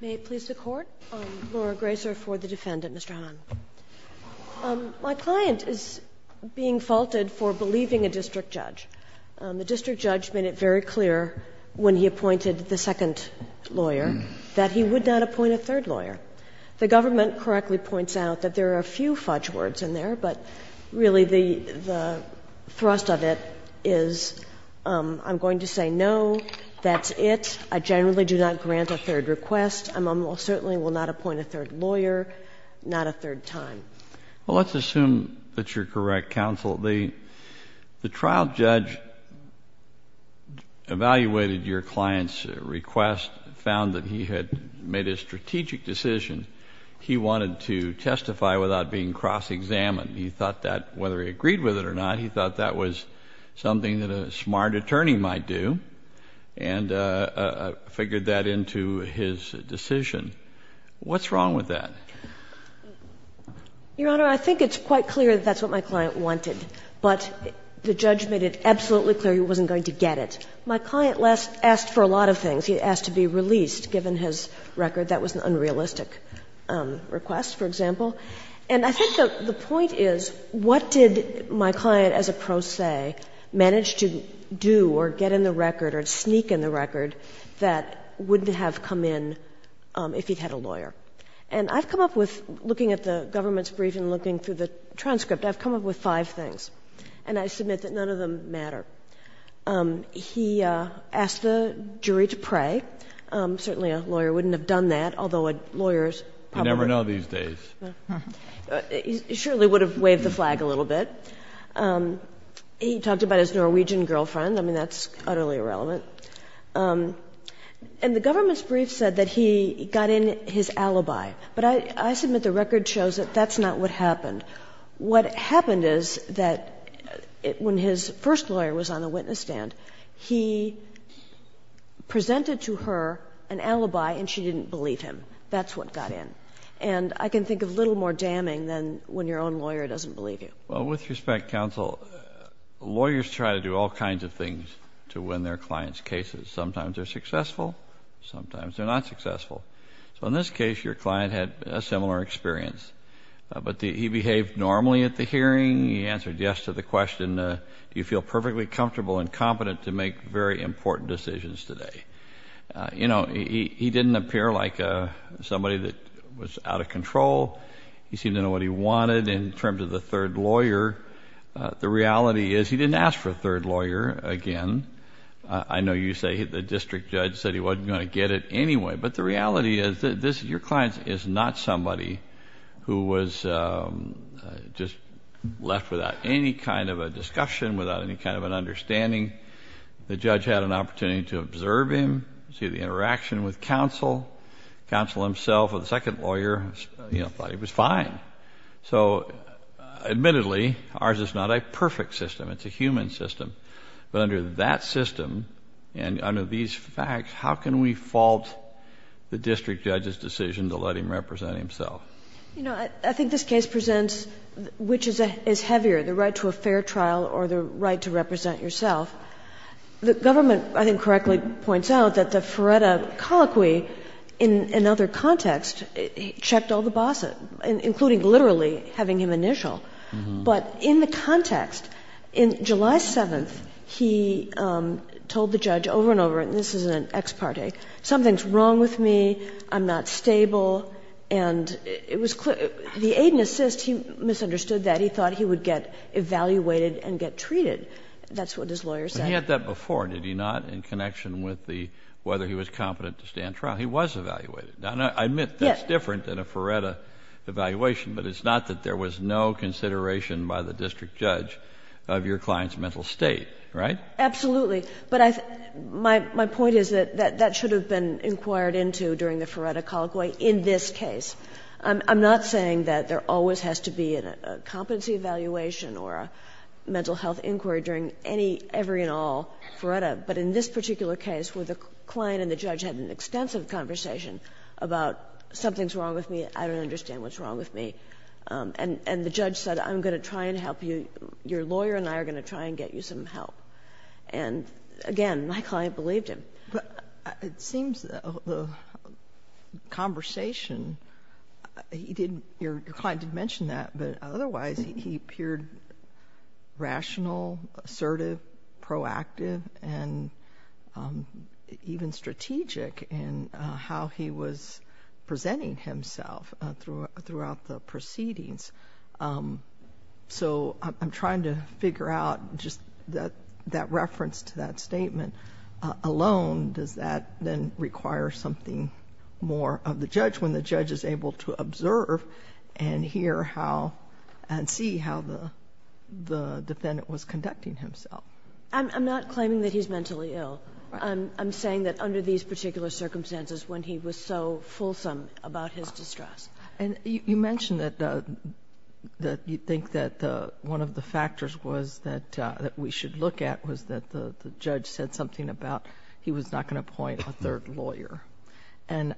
May it please the Court, I'm Laura Grazer for the defendant, Mr. Hamman. My client is being faulted for believing a district judge. The district judge made it very clear when he appointed the second lawyer that he would not appoint a third lawyer. The government correctly points out that there are a few fudge words in there, but really the thrust of it is I'm going to say no, that's it, I generally do not grant a third request. I certainly will not appoint a third lawyer, not a third time. Well, let's assume that you're correct, counsel. The trial judge evaluated your client's request, found that he had made a strategic decision. He wanted to testify without being cross-examined. He thought that whether he agreed with it or not, he thought that was something that a smart attorney might do. And figured that into his decision. What's wrong with that? Your Honor, I think it's quite clear that that's what my client wanted. But the judge made it absolutely clear he wasn't going to get it. My client asked for a lot of things. He asked to be released, given his record. That was an unrealistic request, for example. And I think the point is, what did my client as a pro se manage to do or get in the record or sneak in the record that wouldn't have come in if he'd had a lawyer? And I've come up with, looking at the government's brief and looking through the transcript, I've come up with five things. And I submit that none of them matter. He asked the jury to pray. Certainly a lawyer wouldn't have done that, although a lawyer is probably. You never know these days. He surely would have waved the flag a little bit. He talked about his Norwegian girlfriend. I mean, that's utterly irrelevant. And the government's brief said that he got in his alibi. But I submit the record shows that that's not what happened. What happened is that when his first lawyer was on the witness stand, he presented to her an alibi and she didn't believe him. That's what got in. And I can think of little more damning than when your own lawyer doesn't believe you. Well, with respect, counsel, lawyers try to do all kinds of things to win their clients' cases. Sometimes they're successful. Sometimes they're not successful. So in this case, your client had a similar experience. But he behaved normally at the hearing. He answered yes to the question, do you feel perfectly comfortable and competent to make very important decisions today? You know, he didn't appear like somebody that was out of control. He seemed to know what he wanted in terms of the third lawyer. The reality is he didn't ask for a third lawyer again. I know you say the district judge said he wasn't going to get it anyway. But the reality is that your client is not somebody who was just left without any kind of a discussion, without any kind of an understanding. The judge had an opportunity to observe him, see the interaction with counsel. Counsel himself or the second lawyer, you know, thought he was fine. So admittedly, ours is not a perfect system. It's a human system. But under that system and under these facts, how can we fault the district judge's decision to let him represent himself? You know, I think this case presents which is heavier, the right to a fair trial or the right to represent yourself. The government, I think, correctly points out that the Feretta colloquy, in another context, checked all the bosses, including literally having him initial. But in the context, in July 7th, he told the judge over and over, and this is an ex parte, something's wrong with me, I'm not stable, and it was clear. The aid and assist, he misunderstood that. He thought he would get evaluated and get treated. That's what his lawyer said. But he had that before, did he not, in connection with whether he was competent to stand trial. He was evaluated. Now, I admit that's different than a Feretta evaluation, but it's not that there was no consideration by the district judge of your client's mental state, right? Absolutely. But my point is that that should have been inquired into during the Feretta colloquy in this case. I'm not saying that there always has to be a competency evaluation or a mental health inquiry during every and all Feretta, but in this particular case where the client and the judge had an extensive conversation about something's wrong with me, I don't understand what's wrong with me, and the judge said I'm going to try and help you, your lawyer and I are going to try and get you some help. And, again, my client believed him. It seems the conversation, your client did mention that, but otherwise he appeared rational, assertive, proactive, and even strategic in how he was presenting himself throughout the proceedings. So I'm trying to figure out just that reference to that statement alone. Does that then require something more of the judge when the judge is able to observe and hear how and see how the defendant was conducting himself? I'm not claiming that he's mentally ill. I'm saying that under these particular circumstances when he was so fulsome about his distress. And you mentioned that you think that one of the factors was that we should look at was that the judge said something about he was not going to appoint a third lawyer. And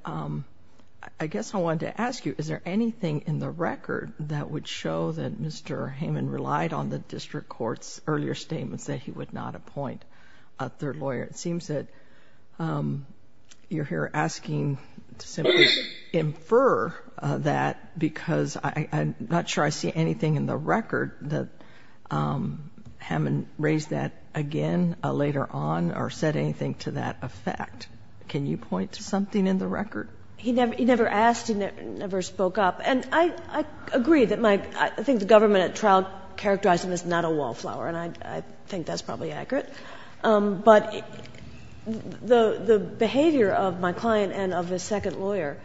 I guess I wanted to ask you, is there anything in the record that would show that Mr. Hayman relied on the district court's earlier statements that he would not appoint a third lawyer? It seems that you're here asking to simply infer that because I'm not sure I see anything in the record that Hayman raised that again later on or said anything to that effect. Can you point to something in the record? He never asked. He never spoke up. And I agree that my, I think the government at trial characterized him as not a wallflower, and I think that's probably accurate. But the behavior of my client and of his second lawyer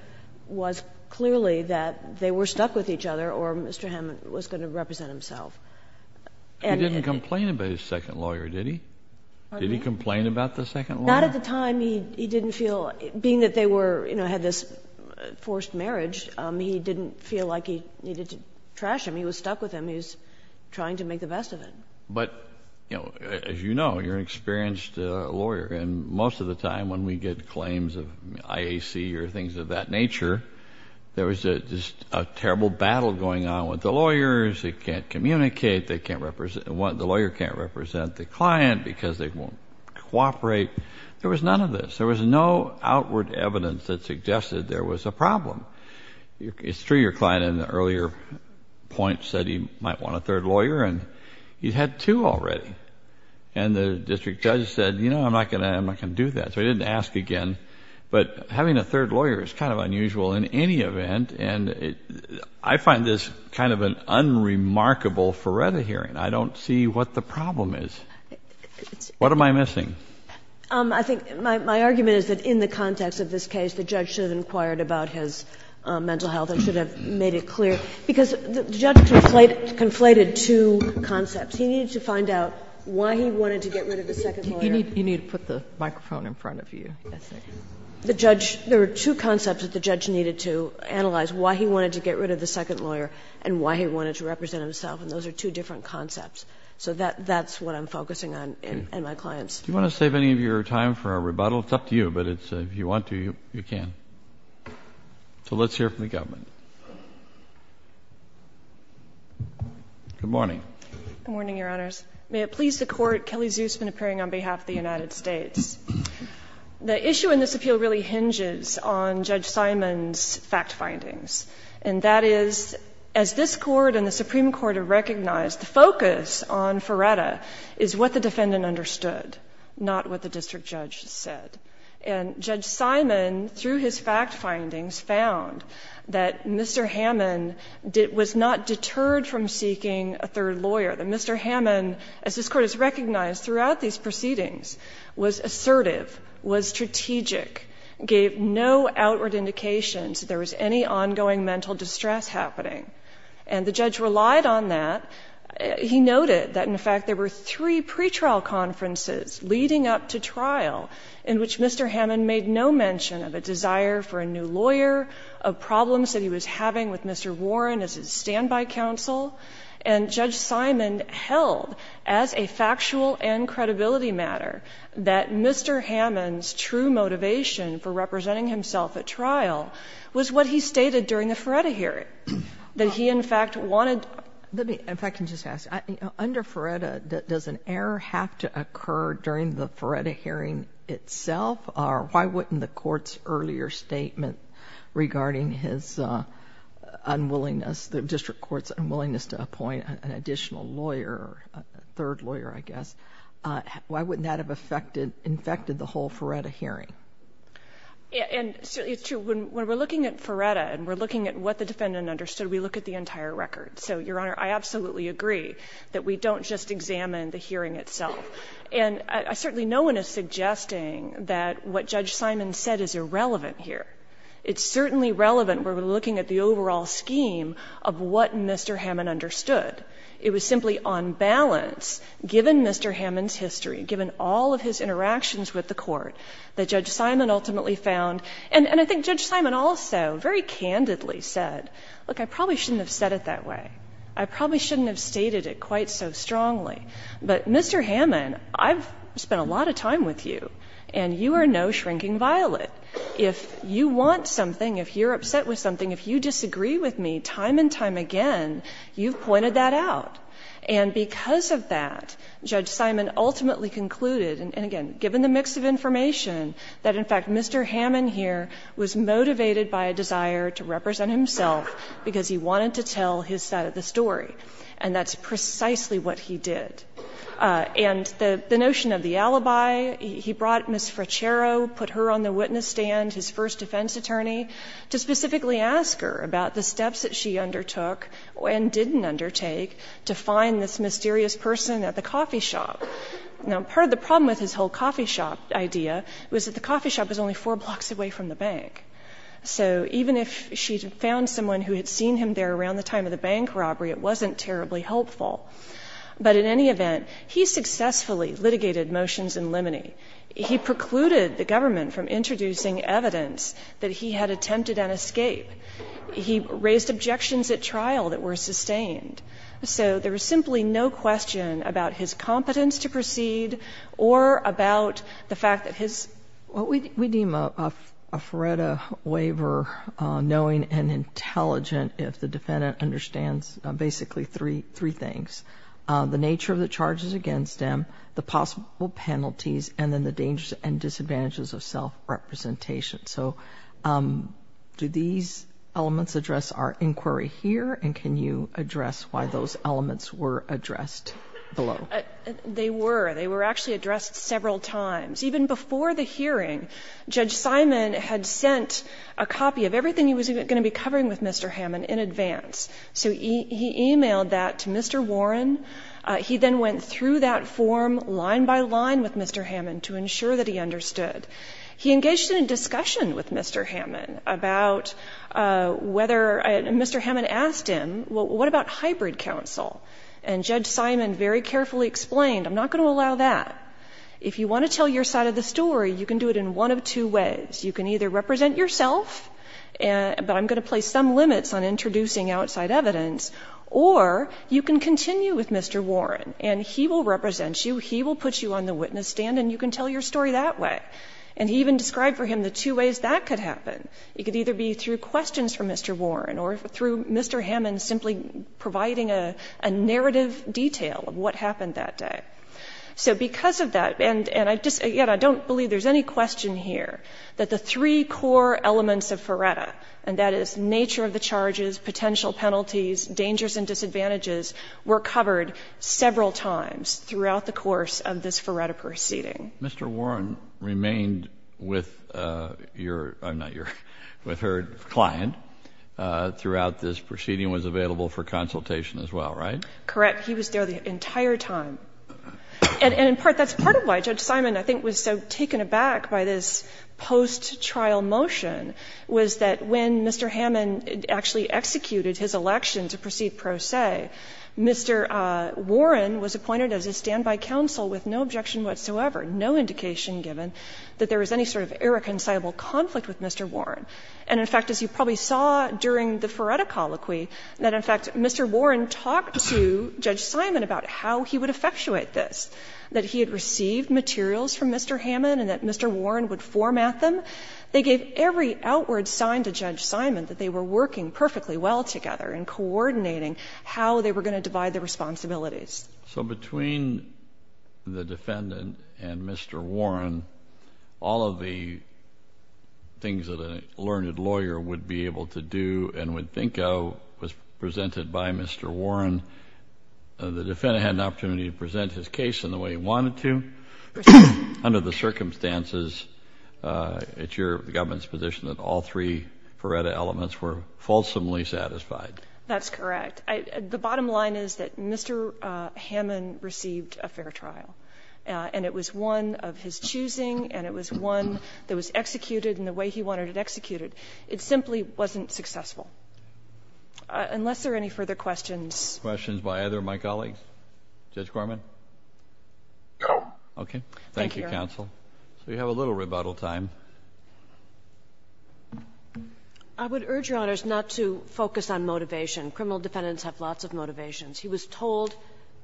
was clearly that they were stuck with each other or Mr. Hayman was going to represent himself. He didn't complain about his second lawyer, did he? Did he complain about the second lawyer? Not at the time. He didn't feel, being that they had this forced marriage, he didn't feel like he needed to trash him. He was stuck with him. He was trying to make the best of it. But as you know, you're an experienced lawyer, and most of the time when we get claims of IAC or things of that nature, there was just a terrible battle going on with the lawyers. They can't communicate. The lawyer can't represent the client because they won't cooperate. There was none of this. There was no outward evidence that suggested there was a problem. It's true your client in the earlier point said he might want a third lawyer, and he had two already. And the district judge said, you know, I'm not going to do that. So he didn't ask again. But having a third lawyer is kind of unusual in any event, and I find this kind of an unremarkable Feretta hearing. I don't see what the problem is. What am I missing? I think my argument is that in the context of this case, the judge should have inquired about his mental health and should have made it clear Because the judge conflated two concepts. He needed to find out why he wanted to get rid of the second lawyer. You need to put the microphone in front of you. The judge, there were two concepts that the judge needed to analyze, why he wanted to get rid of the second lawyer and why he wanted to represent himself, and those are two different concepts. So that's what I'm focusing on in my claims. Do you want to save any of your time for a rebuttal? It's up to you, but if you want to, you can. So let's hear from the government. Good morning. Good morning, Your Honors. May it please the Court, Kelly Zusman appearing on behalf of the United States. The issue in this appeal really hinges on Judge Simon's fact findings, and that is, as this Court and the Supreme Court have recognized, the focus on Feretta is what the defendant understood, not what the district judge said. And Judge Simon, through his fact findings, found that Mr. Hammond was not deterred from seeking a third lawyer, that Mr. Hammond, as this Court has recognized throughout these proceedings, was assertive, was strategic, gave no outward indications that there was any ongoing mental distress happening. And the judge relied on that. He noted that, in fact, there were three pretrial conferences leading up to which Mr. Hammond made no mention of a desire for a new lawyer, of problems that he was having with Mr. Warren as his standby counsel. And Judge Simon held, as a factual and credibility matter, that Mr. Hammond's true motivation for representing himself at trial was what he stated during the Feretta hearing, that he, in fact, wanted. Let me, if I can just ask, under Feretta, does an error have to occur during the Feretta hearing itself, or why wouldn't the Court's earlier statement regarding his unwillingness, the district court's unwillingness to appoint an additional lawyer, a third lawyer, I guess, why wouldn't that have infected the whole Feretta hearing? And it's true, when we're looking at Feretta, and we're looking at what the defendant understood, we look at the entire record. So, Your Honor, I absolutely agree that we don't just examine the hearing itself. And certainly no one is suggesting that what Judge Simon said is irrelevant here. It's certainly relevant when we're looking at the overall scheme of what Mr. Hammond understood. It was simply on balance, given Mr. Hammond's history, given all of his interactions with the Court, that Judge Simon ultimately found. And I think Judge Simon also very candidly said, look, I probably shouldn't have said it that way. I probably shouldn't have stated it quite so strongly. But, Mr. Hammond, I've spent a lot of time with you, and you are no shrinking violet. If you want something, if you're upset with something, if you disagree with me time and time again, you've pointed that out. And because of that, Judge Simon ultimately concluded, and again, given the mix of information, that, in fact, Mr. Hammond here was motivated by a desire to represent himself because he wanted to tell his side of the story. And that's precisely what he did. And the notion of the alibi, he brought Ms. Frachero, put her on the witness stand, his first defense attorney, to specifically ask her about the steps that she undertook and didn't undertake to find this mysterious person at the coffee shop. Now, part of the problem with his whole coffee shop idea was that the coffee shop was only four blocks away from the bank. So even if she had found someone who had seen him there around the time of the bank robbery, it wasn't terribly helpful. But in any event, he successfully litigated motions in limine. He precluded the government from introducing evidence that he had attempted an escape. He raised objections at trial that were sustained. So there was simply no question about his competence to proceed or about the fact that his — knowing and intelligent, if the defendant understands basically three things. The nature of the charges against him, the possible penalties, and then the dangers and disadvantages of self-representation. So do these elements address our inquiry here, and can you address why those elements were addressed below? They were. They were actually addressed several times. Even before the hearing, Judge Simon had sent a copy of everything he was going to be covering with Mr. Hammond in advance. So he emailed that to Mr. Warren. He then went through that form line by line with Mr. Hammond to ensure that he understood. He engaged in a discussion with Mr. Hammond about whether — Mr. Hammond asked him, well, what about hybrid counsel? And Judge Simon very carefully explained, I'm not going to allow that. If you want to tell your side of the story, you can do it in one of two ways. You can either represent yourself, but I'm going to place some limits on introducing outside evidence, or you can continue with Mr. Warren, and he will represent you. He will put you on the witness stand, and you can tell your story that way. And he even described for him the two ways that could happen. It could either be through questions from Mr. Warren or through Mr. Hammond simply providing a narrative detail of what happened that day. So because of that — and I just — again, I don't believe there's any question here that the three core elements of Ferretta, and that is nature of the charges, potential penalties, dangers and disadvantages, were covered several times throughout the course of this Ferretta proceeding. Mr. Warren remained with your — I'm not your — with her client throughout this proceeding and was available for consultation as well, right? Correct. He was there the entire time. And in part, that's part of why Judge Simon, I think, was so taken aback by this post-trial motion, was that when Mr. Hammond actually executed his election to proceed pro se, Mr. Warren was appointed as a standby counsel with no objection whatsoever, no indication given that there was any sort of irreconcilable conflict with Mr. Warren. And in fact, as you probably saw during the Ferretta colloquy, that in fact Mr. Hammond had spoken to Judge Simon about how he would effectuate this, that he had received materials from Mr. Hammond and that Mr. Warren would format them. They gave every outward sign to Judge Simon that they were working perfectly well together in coordinating how they were going to divide the responsibilities. So between the defendant and Mr. Warren, all of the things that a learned lawyer would be able to do and would think of was presented by Mr. Warren. The defendant had an opportunity to present his case in the way he wanted to. Under the circumstances, it's your government's position that all three Ferretta elements were fulsomely satisfied. That's correct. The bottom line is that Mr. Hammond received a fair trial, and it was one of his choosing, and it was one that was executed in the way he wanted it executed. It simply wasn't successful. Unless there are any further questions. Questions by either of my colleagues? Judge Gorman? Okay. Thank you, counsel. Thank you, Your Honor. So you have a little rebuttal time. I would urge, Your Honors, not to focus on motivation. Criminal defendants have lots of motivations. He was told,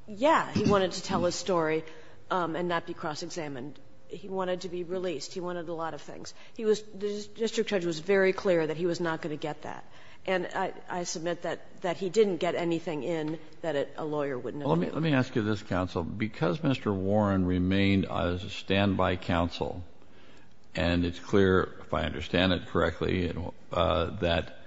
yeah, he wanted to tell his story and not be cross-examined. He wanted to be released. He wanted a lot of things. The district judge was very clear that he was not going to get that. And I submit that he didn't get anything in that a lawyer wouldn't have. Well, let me ask you this, counsel. Because Mr. Warren remained a standby counsel, and it's clear, if I understand it correctly, that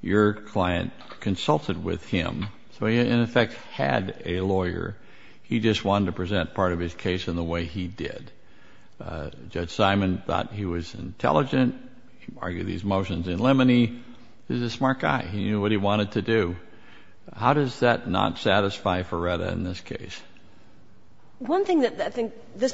your client consulted with him, so he, in effect, had a lawyer, he just wanted to present part of his case in the way he did. Judge Simon thought he was intelligent. He argued these motions in limine. He was a smart guy. He knew what he wanted to do. How does that not satisfy Ferretta in this case? One thing that I think this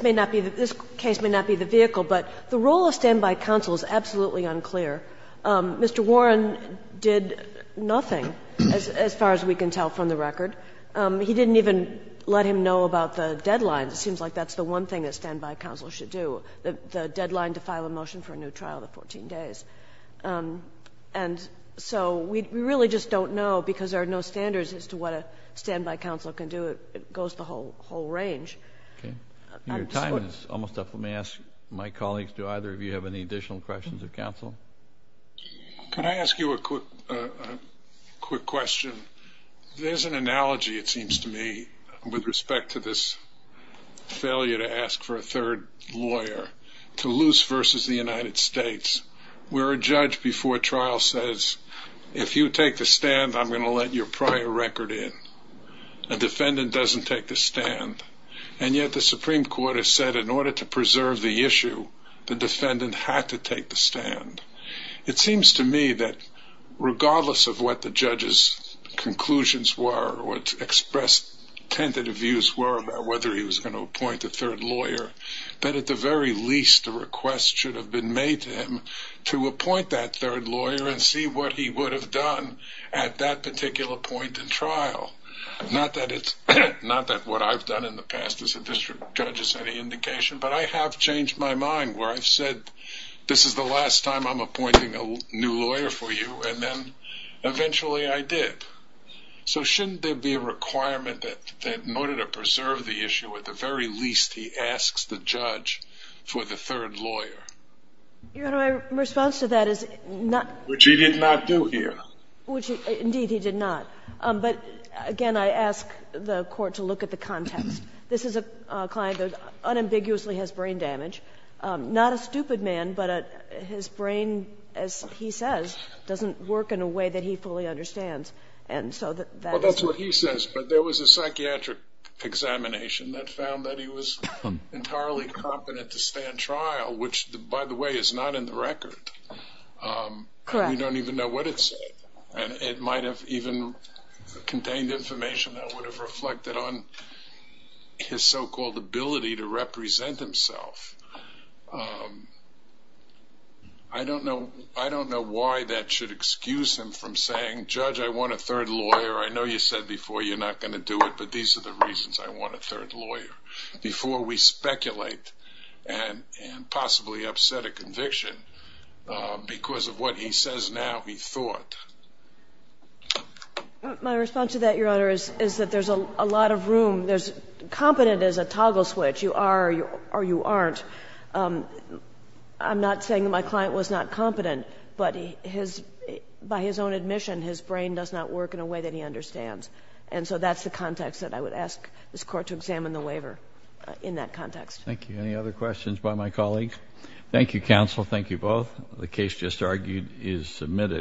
case may not be the vehicle, but the role of standby counsel is absolutely unclear. Mr. Warren did nothing, as far as we can tell from the record. He didn't even let him know about the deadline. It seems like that's the one thing that standby counsel should do, the deadline to file a motion for a new trial, the 14 days. And so we really just don't know because there are no standards as to what a standby counsel can do. It goes the whole range. Your time is almost up. Let me ask my colleagues, do either of you have any additional questions of counsel? Can I ask you a quick question? There's an analogy, it seems to me, with respect to this failure to ask for a third lawyer to lose versus the United States, where a judge before trial says, if you take the stand, I'm going to let your prior record in. A defendant doesn't take the stand. And yet the Supreme Court has said in order to preserve the issue, the defendant had to take the stand. It seems to me that regardless of what the judge's conclusions were or what expressed tentative views were about whether he was going to appoint a third lawyer, that at the very least a request should have been made to him to appoint that third lawyer and see what he would have done at that particular point in trial. Not that what I've done in the past as a district judge is any indication, but I have changed my mind where I've said this is the last time I'm appointing a new lawyer for you, and then eventually I did. So shouldn't there be a requirement that in order to preserve the issue, at the very least he asks the judge for the third lawyer? Your Honor, my response to that is not – Which he did not do here. Indeed, he did not. But again, I ask the Court to look at the context. This is a client that unambiguously has brain damage. Not a stupid man, but his brain, as he says, doesn't work in a way that he fully understands. And so that is – Well, that's what he says. But there was a psychiatric examination that found that he was entirely competent to stand trial, which, by the way, is not in the record. Correct. We don't even know what it said. And it might have even contained information that would have reflected on his so-called ability to represent himself. I don't know why that should excuse him from saying, Judge, I want a third lawyer. I know you said before you're not going to do it, but these are the reasons I want a third lawyer, before we speculate and possibly upset a conviction because of what he says now he thought. My response to that, Your Honor, is that there's a lot of room. Competent is a toggle switch. You are or you aren't. I'm not saying my client was not competent, but by his own admission, his brain does not work in a way that he understands. And so that's the context that I would ask this Court to examine the waiver in that context. Thank you. Any other questions by my colleagues? Thank you, counsel. Thank you both. The case just argued is submitted.